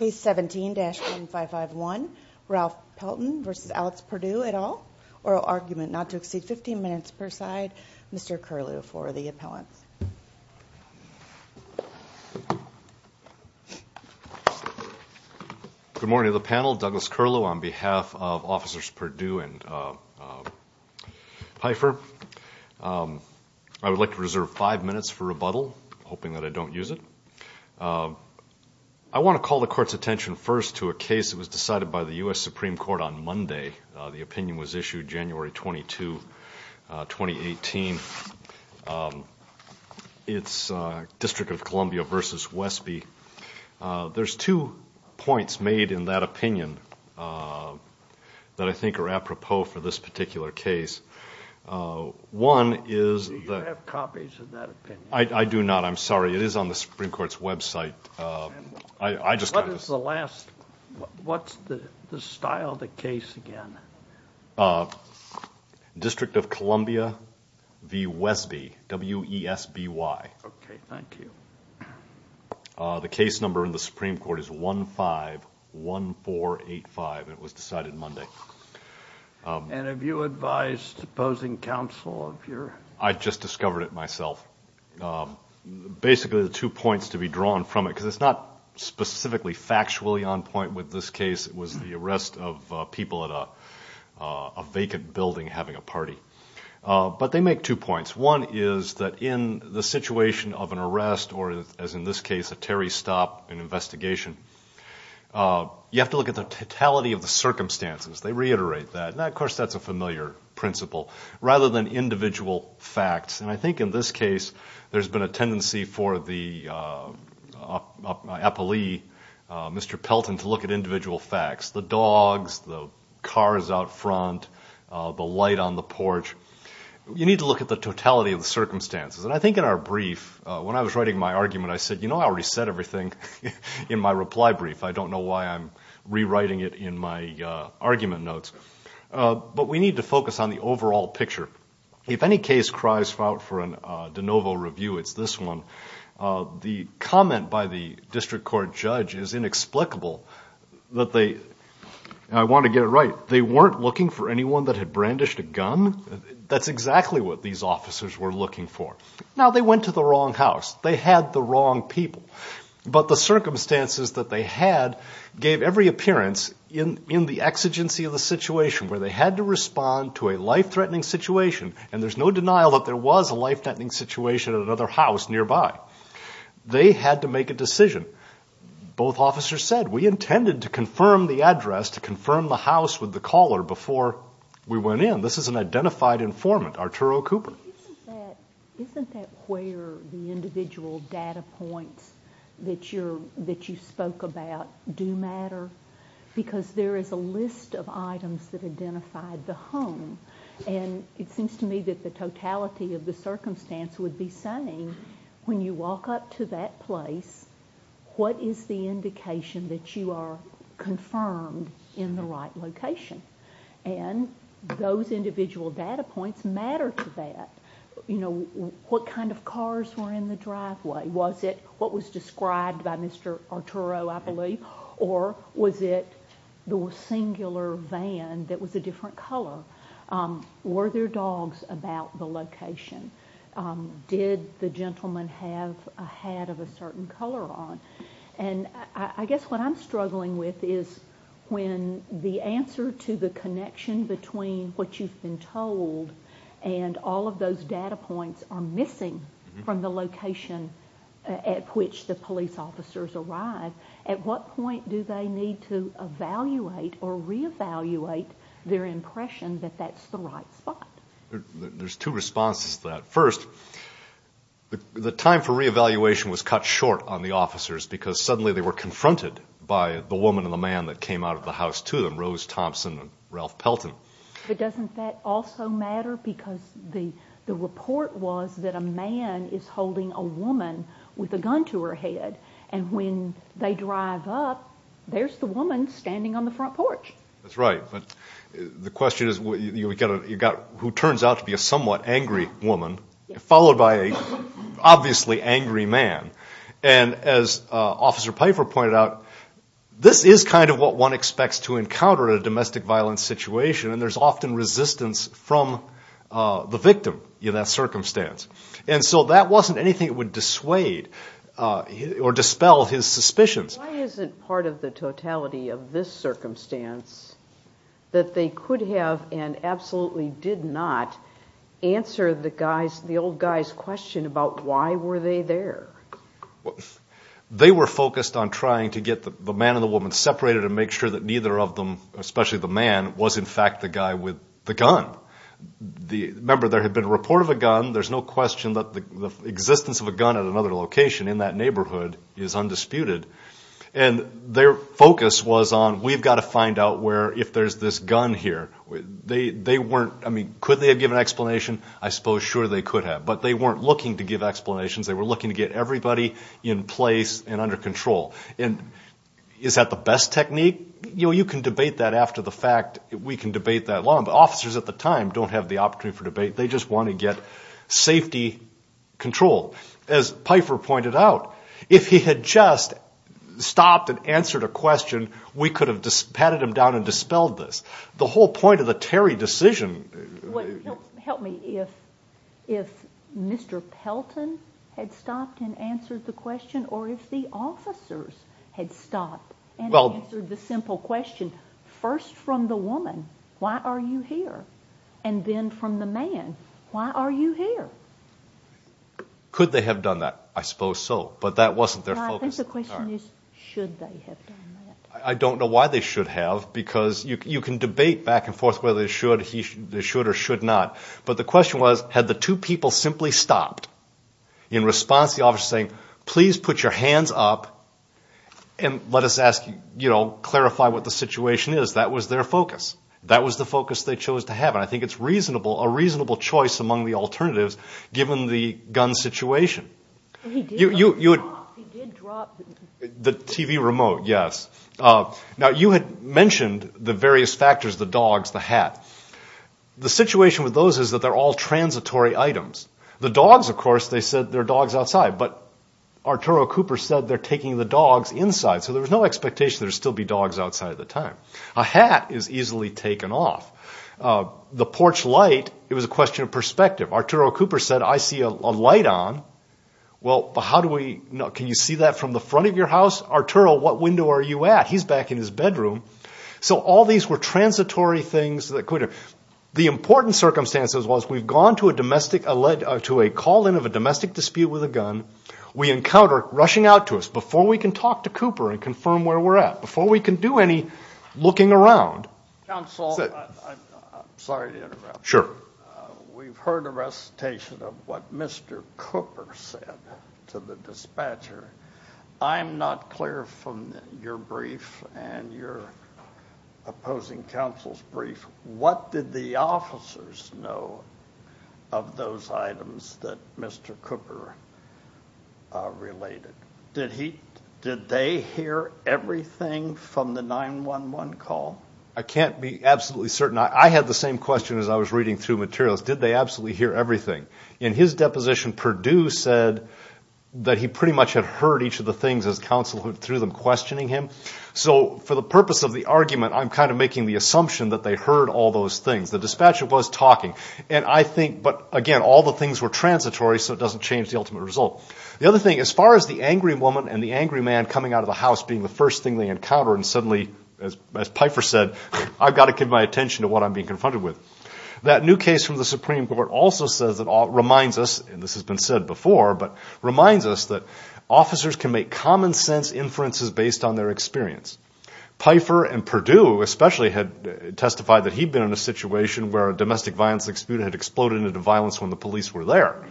Case 17-1551, Ralph Pelton v. Alex Perdue, et al. Oral argument not to exceed 15 minutes per side. Mr. Curlew for the appellants. Good morning to the panel. Douglas Curlew on behalf of Officers Perdue and Pfeiffer. I would like to reserve five minutes for rebuttal, hoping that I don't use it. I want to call the court's attention first to a case that was decided by the U.S. Supreme Court on Monday. The opinion was issued January 22, 2018. It's District of Columbia v. Westby. There's two points made in that opinion that I think are apropos for this particular case. Do you have copies of that opinion? I do not, I'm sorry. It is on the Supreme Court's website. What's the style of the case again? District of Columbia v. Westby. Okay, thank you. The case number in the Supreme Court is 151485, and it was decided Monday. And have you advised opposing counsel of your... I just discovered it myself. Basically the two points to be drawn from it, because it's not specifically factually on point with this case. It was the arrest of people at a vacant building having a party. But they make two points. One is that in the situation of an arrest, or as in this case, a Terry stop, an investigation, you have to look at the totality of the circumstances. They reiterate that, and of course that's a familiar principle, rather than individual facts. And I think in this case there's been a tendency for the appellee, Mr. Pelton, to look at individual facts. The dogs, the cars out front, the light on the porch. You need to look at the totality of the circumstances. And I think in our brief, when I was writing my argument, I said, you know I already said everything in my reply brief. I don't know why I'm rewriting it in my argument notes. But we need to focus on the overall picture. If any case cries out for a de novo review, it's this one. The comment by the district court judge is inexplicable. I want to get it right. They weren't looking for anyone that had brandished a gun? That's exactly what these officers were looking for. Now they went to the wrong house. They had the wrong people. But the circumstances that they had gave every appearance in the exigency of the situation, where they had to respond to a life-threatening situation. And there's no denial that there was a life-threatening situation at another house nearby. They had to make a decision. Both officers said, we intended to confirm the address, to confirm the house with the caller before we went in. This is an identified informant, Arturo Cooper. Isn't that where the individual data points that you spoke about do matter? Because there is a list of items that identified the home. And it seems to me that the totality of the circumstance would be saying, when you walk up to that place, what is the indication that you are confirmed in the right location? And those individual data points matter to that. You know, what kind of cars were in the driveway? Was it what was described by Mr. Arturo, I believe? Or was it the singular van that was a different color? Were there dogs about the location? Did the gentleman have a hat of a certain color on? And I guess what I'm struggling with is when the answer to the connection between what you've been told and all of those data points are missing from the location at which the police officers arrived, at what point do they need to evaluate or reevaluate their impression that that's the right spot? There's two responses to that. First, the time for reevaluation was cut short on the officers because suddenly they were confronted by the woman and the man that came out of the house to them, Rose Thompson and Ralph Pelton. But doesn't that also matter? Because the report was that a man is holding a woman with a gun to her head. And when they drive up, there's the woman standing on the front porch. That's right. But the question is who turns out to be a somewhat angry woman followed by an obviously angry man. And as Officer Piper pointed out, this is kind of what one expects to encounter in a domestic violence situation, and there's often resistance from the victim in that circumstance. And so that wasn't anything that would dissuade or dispel his suspicions. Why isn't part of the totality of this circumstance that they could have and absolutely did not answer the old guy's question about why were they there? They were focused on trying to get the man and the woman separated and make sure that neither of them, especially the man, was in fact the guy with the gun. Remember, there had been a report of a gun. There's no question that the existence of a gun at another location in that neighborhood is undisputed. And their focus was on we've got to find out if there's this gun here. Could they have given an explanation? I suppose sure they could have, but they weren't looking to give explanations. They were looking to get everybody in place and under control. And is that the best technique? You can debate that after the fact. We can debate that long. Officers at the time don't have the opportunity for debate. They just want to get safety control. As Pfeiffer pointed out, if he had just stopped and answered a question, we could have patted him down and dispelled this. The whole point of the Terry decision— Well, help me. If Mr. Pelton had stopped and answered the question, or if the officers had stopped and answered the simple question, first from the woman, why are you here? And then from the man, why are you here? Could they have done that? I suppose so. But that wasn't their focus. I think the question is should they have done that? I don't know why they should have, because you can debate back and forth whether they should or should not. But the question was had the two people simply stopped in response to the officer saying, please put your hands up and let us clarify what the situation is. That was their focus. That was the focus they chose to have. And I think it's reasonable, a reasonable choice among the alternatives, given the gun situation. He did drop the TV remote. The TV remote, yes. Now, you had mentioned the various factors, the dogs, the hat. The situation with those is that they're all transitory items. The dogs, of course, they said they're dogs outside. But Arturo Cooper said they're taking the dogs inside. So there was no expectation there would still be dogs outside at the time. A hat is easily taken off. The porch light, it was a question of perspective. Arturo Cooper said, I see a light on. Well, how do we know? Can you see that from the front of your house? Arturo, what window are you at? He's back in his bedroom. So all these were transitory things. The important circumstances was we've gone to a call in of a domestic dispute with a gun. We encounter, rushing out to us, before we can talk to Cooper and confirm where we're at, before we can do any looking around. Counsel, I'm sorry to interrupt. Sure. We've heard a recitation of what Mr. Cooper said to the dispatcher. I'm not clear from your brief and your opposing counsel's brief. What did the officers know of those items that Mr. Cooper related? Did they hear everything from the 911 call? I can't be absolutely certain. I had the same question as I was reading through materials. Did they absolutely hear everything? In his deposition, Perdue said that he pretty much had heard each of the things as counsel through them questioning him. So for the purpose of the argument, I'm kind of making the assumption that they heard all those things. The dispatcher was talking. And I think, but again, all the things were transitory, so it doesn't change the ultimate result. The other thing, as far as the angry woman and the angry man coming out of the house being the first thing they encounter and suddenly, as Pfeiffer said, I've got to give my attention to what I'm being confronted with. That new case from the Supreme Court also says, reminds us, and this has been said before, but reminds us that officers can make common sense inferences based on their experience. Pfeiffer and Perdue especially had testified that he'd been in a situation where a domestic violence dispute had exploded into violence when the police were there.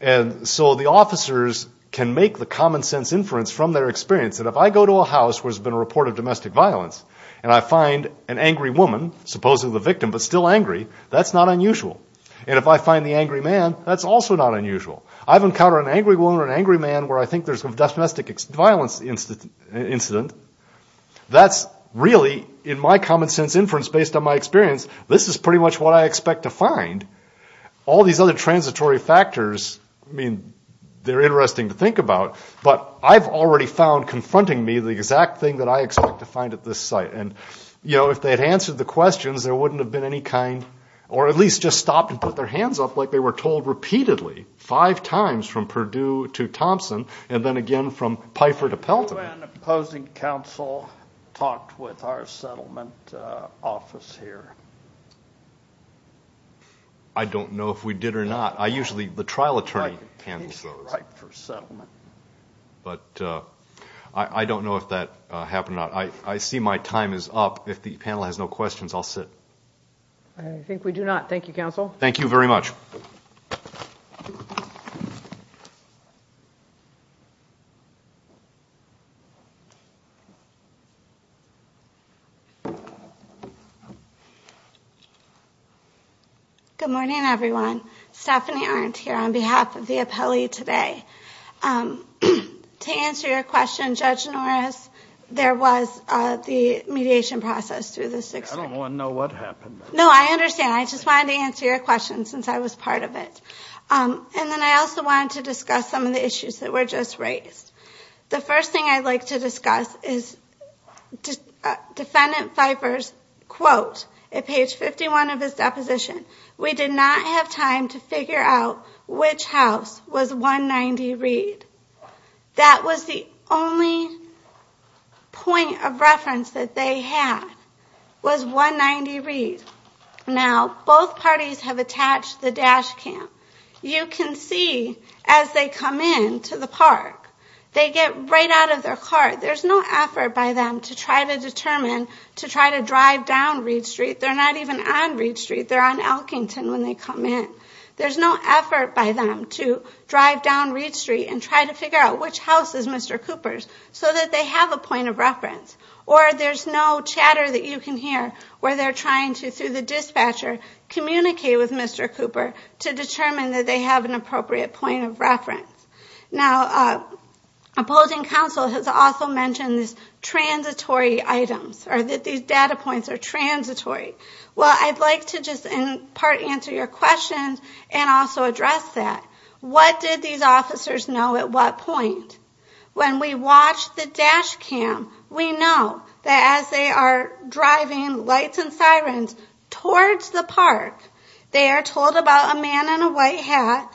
And so the officers can make the common sense inference from their experience that if I go to a house where there's been a report of domestic violence and I find an angry woman, supposedly the victim, but still angry, that's not unusual. And if I find the angry man, that's also not unusual. I've encountered an angry woman or an angry man where I think there's been a domestic violence incident. That's really, in my common sense inference based on my experience, this is pretty much what I expect to find. All these other transitory factors, I mean, they're interesting to think about, but I've already found confronting me the exact thing that I expect to find at this site. And, you know, if they had answered the questions, there wouldn't have been any kind, or at least just stopped and put their hands up like they were told repeatedly five times from Perdue to Thompson and then again from Pfeiffer to Pelton. When opposing counsel talked with our settlement office here? I don't know if we did or not. I usually, the trial attorney handles those. He's right for settlement. But I don't know if that happened or not. I see my time is up. If the panel has no questions, I'll sit. I think we do not. Thank you, counsel. Thank you very much. Good morning, everyone. Stephanie Arndt here on behalf of the appellee today. To answer your question, Judge Norris, there was the mediation process through the six years. I don't want to know what happened. No, I understand. I just wanted to answer your question since I was part of it. And then I also wanted to discuss some of the issues that were just raised. The first thing I'd like to discuss is Defendant Pfeiffer's quote at page 51 of his deposition. We did not have time to figure out which house was 190 Reed. That was the only point of reference that they had was 190 Reed. Now, both parties have attached the dash cam. You can see as they come in to the park, they get right out of their car. There's no effort by them to try to determine, to try to drive down Reed Street. They're not even on Reed Street. They're on Elkington when they come in. There's no effort by them to drive down Reed Street and try to figure out which house is Mr. Cooper's so that they have a point of reference. Or there's no chatter that you can hear where they're trying to, through the dispatcher, communicate with Mr. Cooper to determine that they have an appropriate point of reference. Now, opposing counsel has also mentioned these transitory items or that these data points are transitory. Well, I'd like to just in part answer your question and also address that. What did these officers know at what point? When we watch the dash cam, we know that as they are driving lights and sirens towards the park, they are told about a man in a white hat,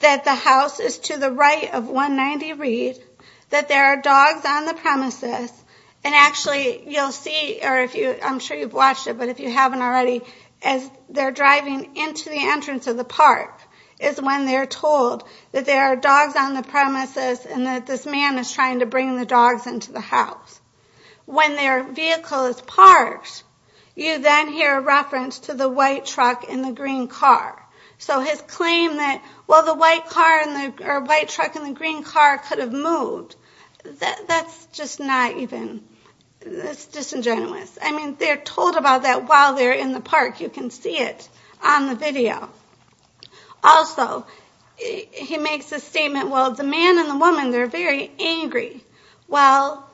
that the house is to the right of 190 Reed, that there are dogs on the premises, and actually you'll see, or I'm sure you've watched it, but if you haven't already, as they're driving into the entrance of the park is when they're told that there are dogs on the premises and that this man is trying to bring the dogs into the house. When their vehicle is parked, you then hear a reference to the white truck in the green car. So his claim that, well, the white truck in the green car could have moved, that's just not even, that's disingenuous. I mean, they're told about that while they're in the park. You can see it on the video. Also, he makes a statement, well, the man and the woman, they're very angry. Well,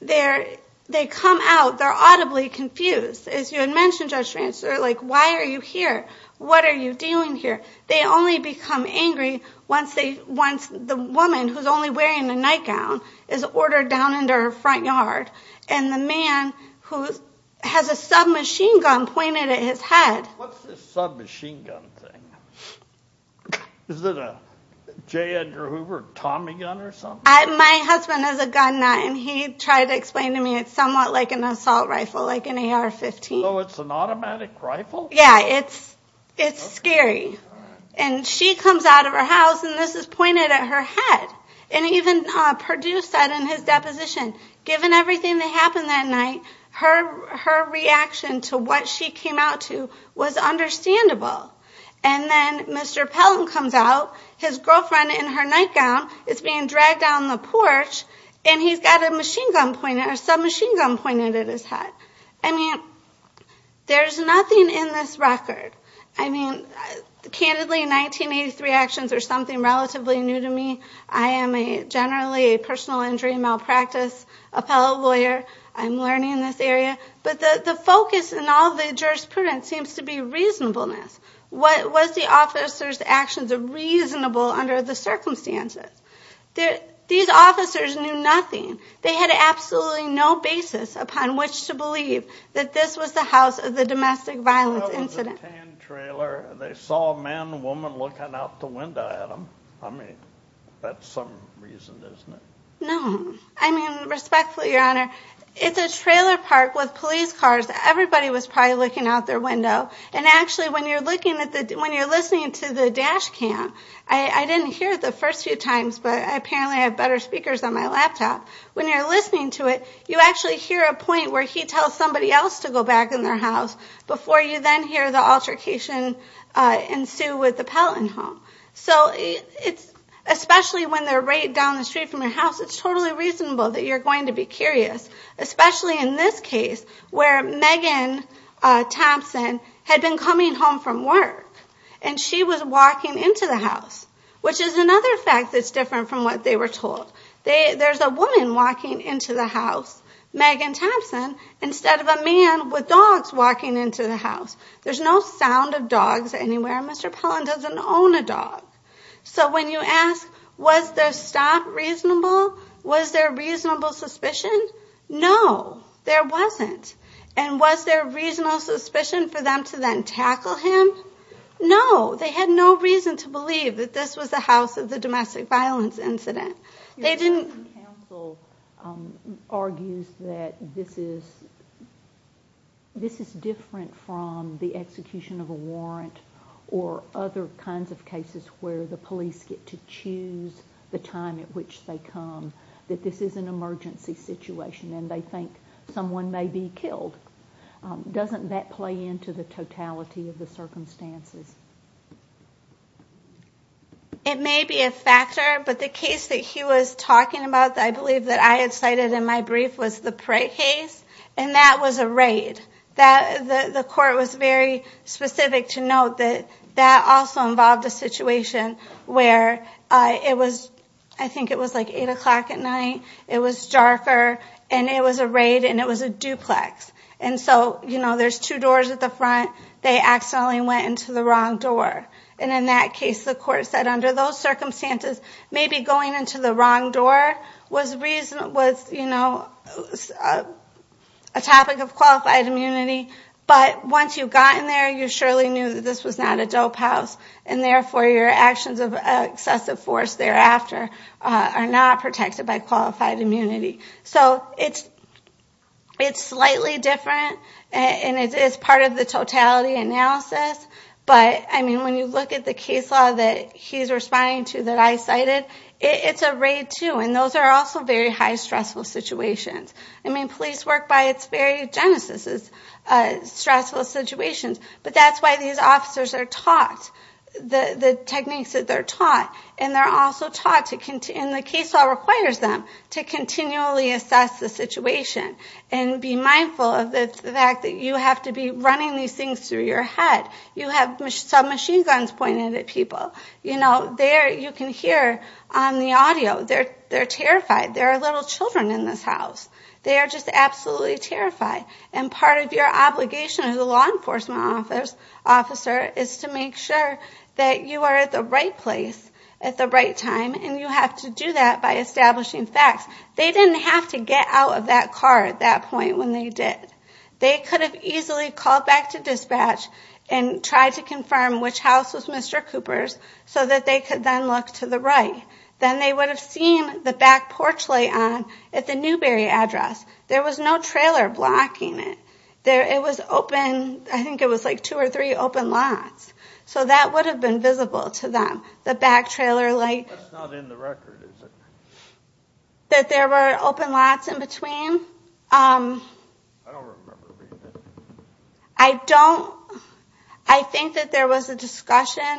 they come out, they're audibly confused. As you had mentioned, Judge Francis, they're like, why are you here? What are you doing here? They only become angry once the woman, who's only wearing a nightgown, is ordered down into her front yard. And the man, who has a submachine gun pointed at his head. What's this submachine gun thing? Is it a J. Edgar Hoover Tommy gun or something? My husband has a gun, and he tried to explain to me it's somewhat like an assault rifle, like an AR-15. So it's an automatic rifle? Yeah, it's scary. And she comes out of her house, and this is pointed at her head. And even Perdue said in his deposition, given everything that happened that night, her reaction to what she came out to was understandable. And then Mr. Pelton comes out, his girlfriend in her nightgown is being dragged down the porch, and he's got a submachine gun pointed at his head. I mean, there's nothing in this record. I mean, candidly, 1983 actions are something relatively new to me. I am generally a personal injury malpractice appellate lawyer. I'm learning in this area. But the focus in all the jurisprudence seems to be reasonableness. Was the officer's actions reasonable under the circumstances? These officers knew nothing. They had absolutely no basis upon which to believe that this was the house of the domestic violence incident. It was a tan trailer. They saw a man and a woman looking out the window at them. I mean, that's some reason, isn't it? No. I mean, respectfully, Your Honor, it's a trailer park with police cars. Everybody was probably looking out their window. And actually, when you're listening to the dash cam, I didn't hear it the first few times, but apparently I have better speakers on my laptop. When you're listening to it, you actually hear a point where he tells somebody else to go back in their house before you then hear the altercation ensue with the Pelton home. So especially when they're right down the street from your house, it's totally reasonable that you're going to be curious, especially in this case where Megan Thompson had been coming home from work, and she was walking into the house, which is another fact that's different from what they were told. There's a woman walking into the house, Megan Thompson, instead of a man with dogs walking into the house. There's no sound of dogs anywhere. Mr. Pelton doesn't own a dog. So when you ask, was their stop reasonable, was there reasonable suspicion? No, there wasn't. And was there reasonable suspicion for them to then tackle him? No. They had no reason to believe that this was the house of the domestic violence incident. They didn't. Counsel argues that this is different from the execution of a warrant or other kinds of cases where the police get to choose the time at which they come, that this is an emergency situation and they think someone may be killed. Doesn't that play into the totality of the circumstances? It may be a factor, but the case that he was talking about that I believe that I had cited in my brief was the Pratt case, and that was a raid. The court was very specific to note that that also involved a situation where it was, like, 8 o'clock at night, it was darker, and it was a raid and it was a duplex. And so, you know, there's two doors at the front. They accidentally went into the wrong door. And in that case, the court said under those circumstances, maybe going into the wrong door was a topic of qualified immunity, but once you've gotten there, you surely knew that this was not a dope house, and therefore your actions of excessive force thereafter are not protected by qualified immunity. So it's slightly different, and it is part of the totality analysis, but, I mean, when you look at the case law that he's responding to that I cited, it's a raid too, and those are also very high stressful situations. I mean, police work by its very genesis is stressful situations, but that's why these officers are taught the techniques that they're taught, and they're also taught, and the case law requires them to continually assess the situation and be mindful of the fact that you have to be running these things through your head. You have submachine guns pointed at people. You know, you can hear on the audio they're terrified. There are little children in this house. They are just absolutely terrified, and part of your obligation as a law enforcement officer is to make sure that you are at the right place at the right time, and you have to do that by establishing facts. They didn't have to get out of that car at that point when they did. They could have easily called back to dispatch and tried to confirm which house was Mr. Cooper's so that they could then look to the right. Then they would have seen the back porch light on at the Newberry address. There was no trailer blocking it. It was open. I think it was like two or three open lots, so that would have been visible to them, the back trailer light. That's not in the record, is it? That there were open lots in between? I don't remember reading that. I don't. I think that there was a discussion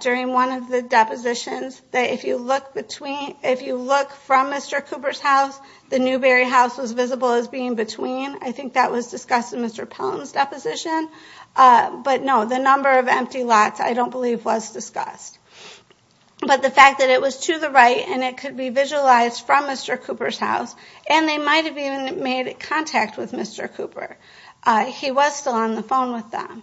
during one of the depositions that if you look between, the Newberry house was visible as being between. I think that was discussed in Mr. Pelton's deposition. But no, the number of empty lots I don't believe was discussed. But the fact that it was to the right and it could be visualized from Mr. Cooper's house, and they might have even made contact with Mr. Cooper. He was still on the phone with them.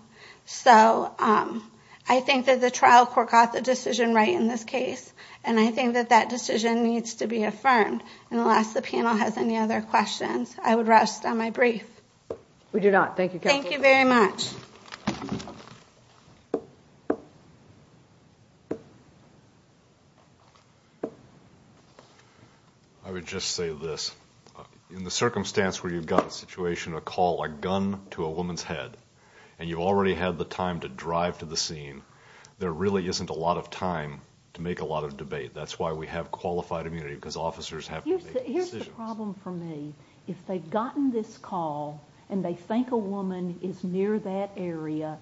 I think that the trial court got the decision right in this case, and I think that that decision needs to be affirmed. Unless the panel has any other questions, I would rest on my brief. We do not. Thank you, Kelly. Thank you very much. I would just say this. In the circumstance where you've got a situation to call a gun to a woman's head and you've already had the time to drive to the scene, there really isn't a lot of time to make a lot of debate. That's why we have qualified immunity, because officers have to make decisions. Here's the problem for me. If they've gotten this call and they think a woman is near that area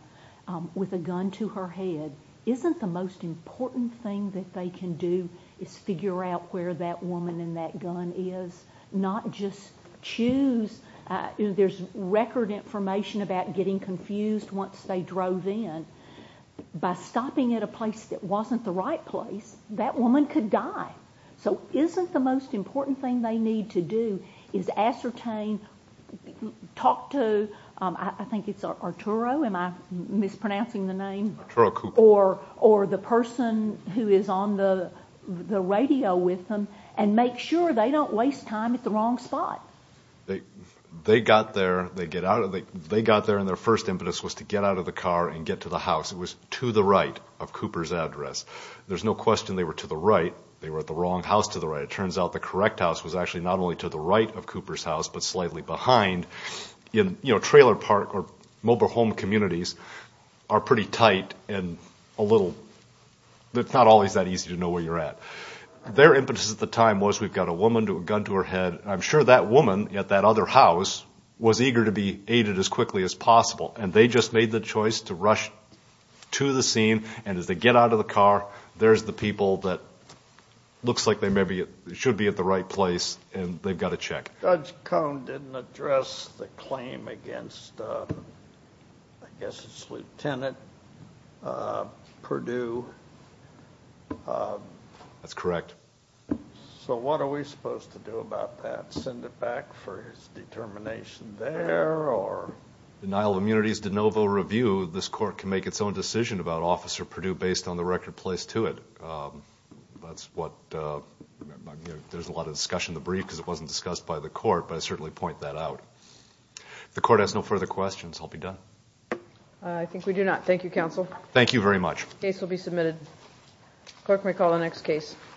with a gun to her head, isn't the most important thing that they can do is figure out where that woman and that gun is, not just choose? There's record information about getting confused once they drove in. By stopping at a place that wasn't the right place, that woman could die. So isn't the most important thing they need to do is ascertain, talk to, I think it's Arturo. Am I mispronouncing the name? Arturo Cooper. Or the person who is on the radio with them, and make sure they don't waste time at the wrong spot. They got there and their first impetus was to get out of the car and get to the house. It was to the right of Cooper's address. There's no question they were to the right. They were at the wrong house to the right. It turns out the correct house was actually not only to the right of Cooper's house, but slightly behind. Trailer park or mobile home communities are pretty tight and a little, it's not always that easy to know where you're at. Their impetus at the time was we've got a woman with a gun to her head. And I'm sure that woman at that other house was eager to be aided as quickly as possible. And they just made the choice to rush to the scene. And as they get out of the car, there's the people that looks like they maybe should be at the right place, and they've got to check. Judge Cone didn't address the claim against, I guess it's Lieutenant Perdue. That's correct. So what are we supposed to do about that? Send it back for his determination there? Denial of immunity is de novo review. This court can make its own decision about Officer Perdue based on the record placed to it. That's what, there's a lot of discussion in the brief because it wasn't discussed by the court, but I certainly point that out. If the court has no further questions, I'll be done. I think we do not. Thank you, counsel. Thank you very much. The case will be submitted. Court may call the next case.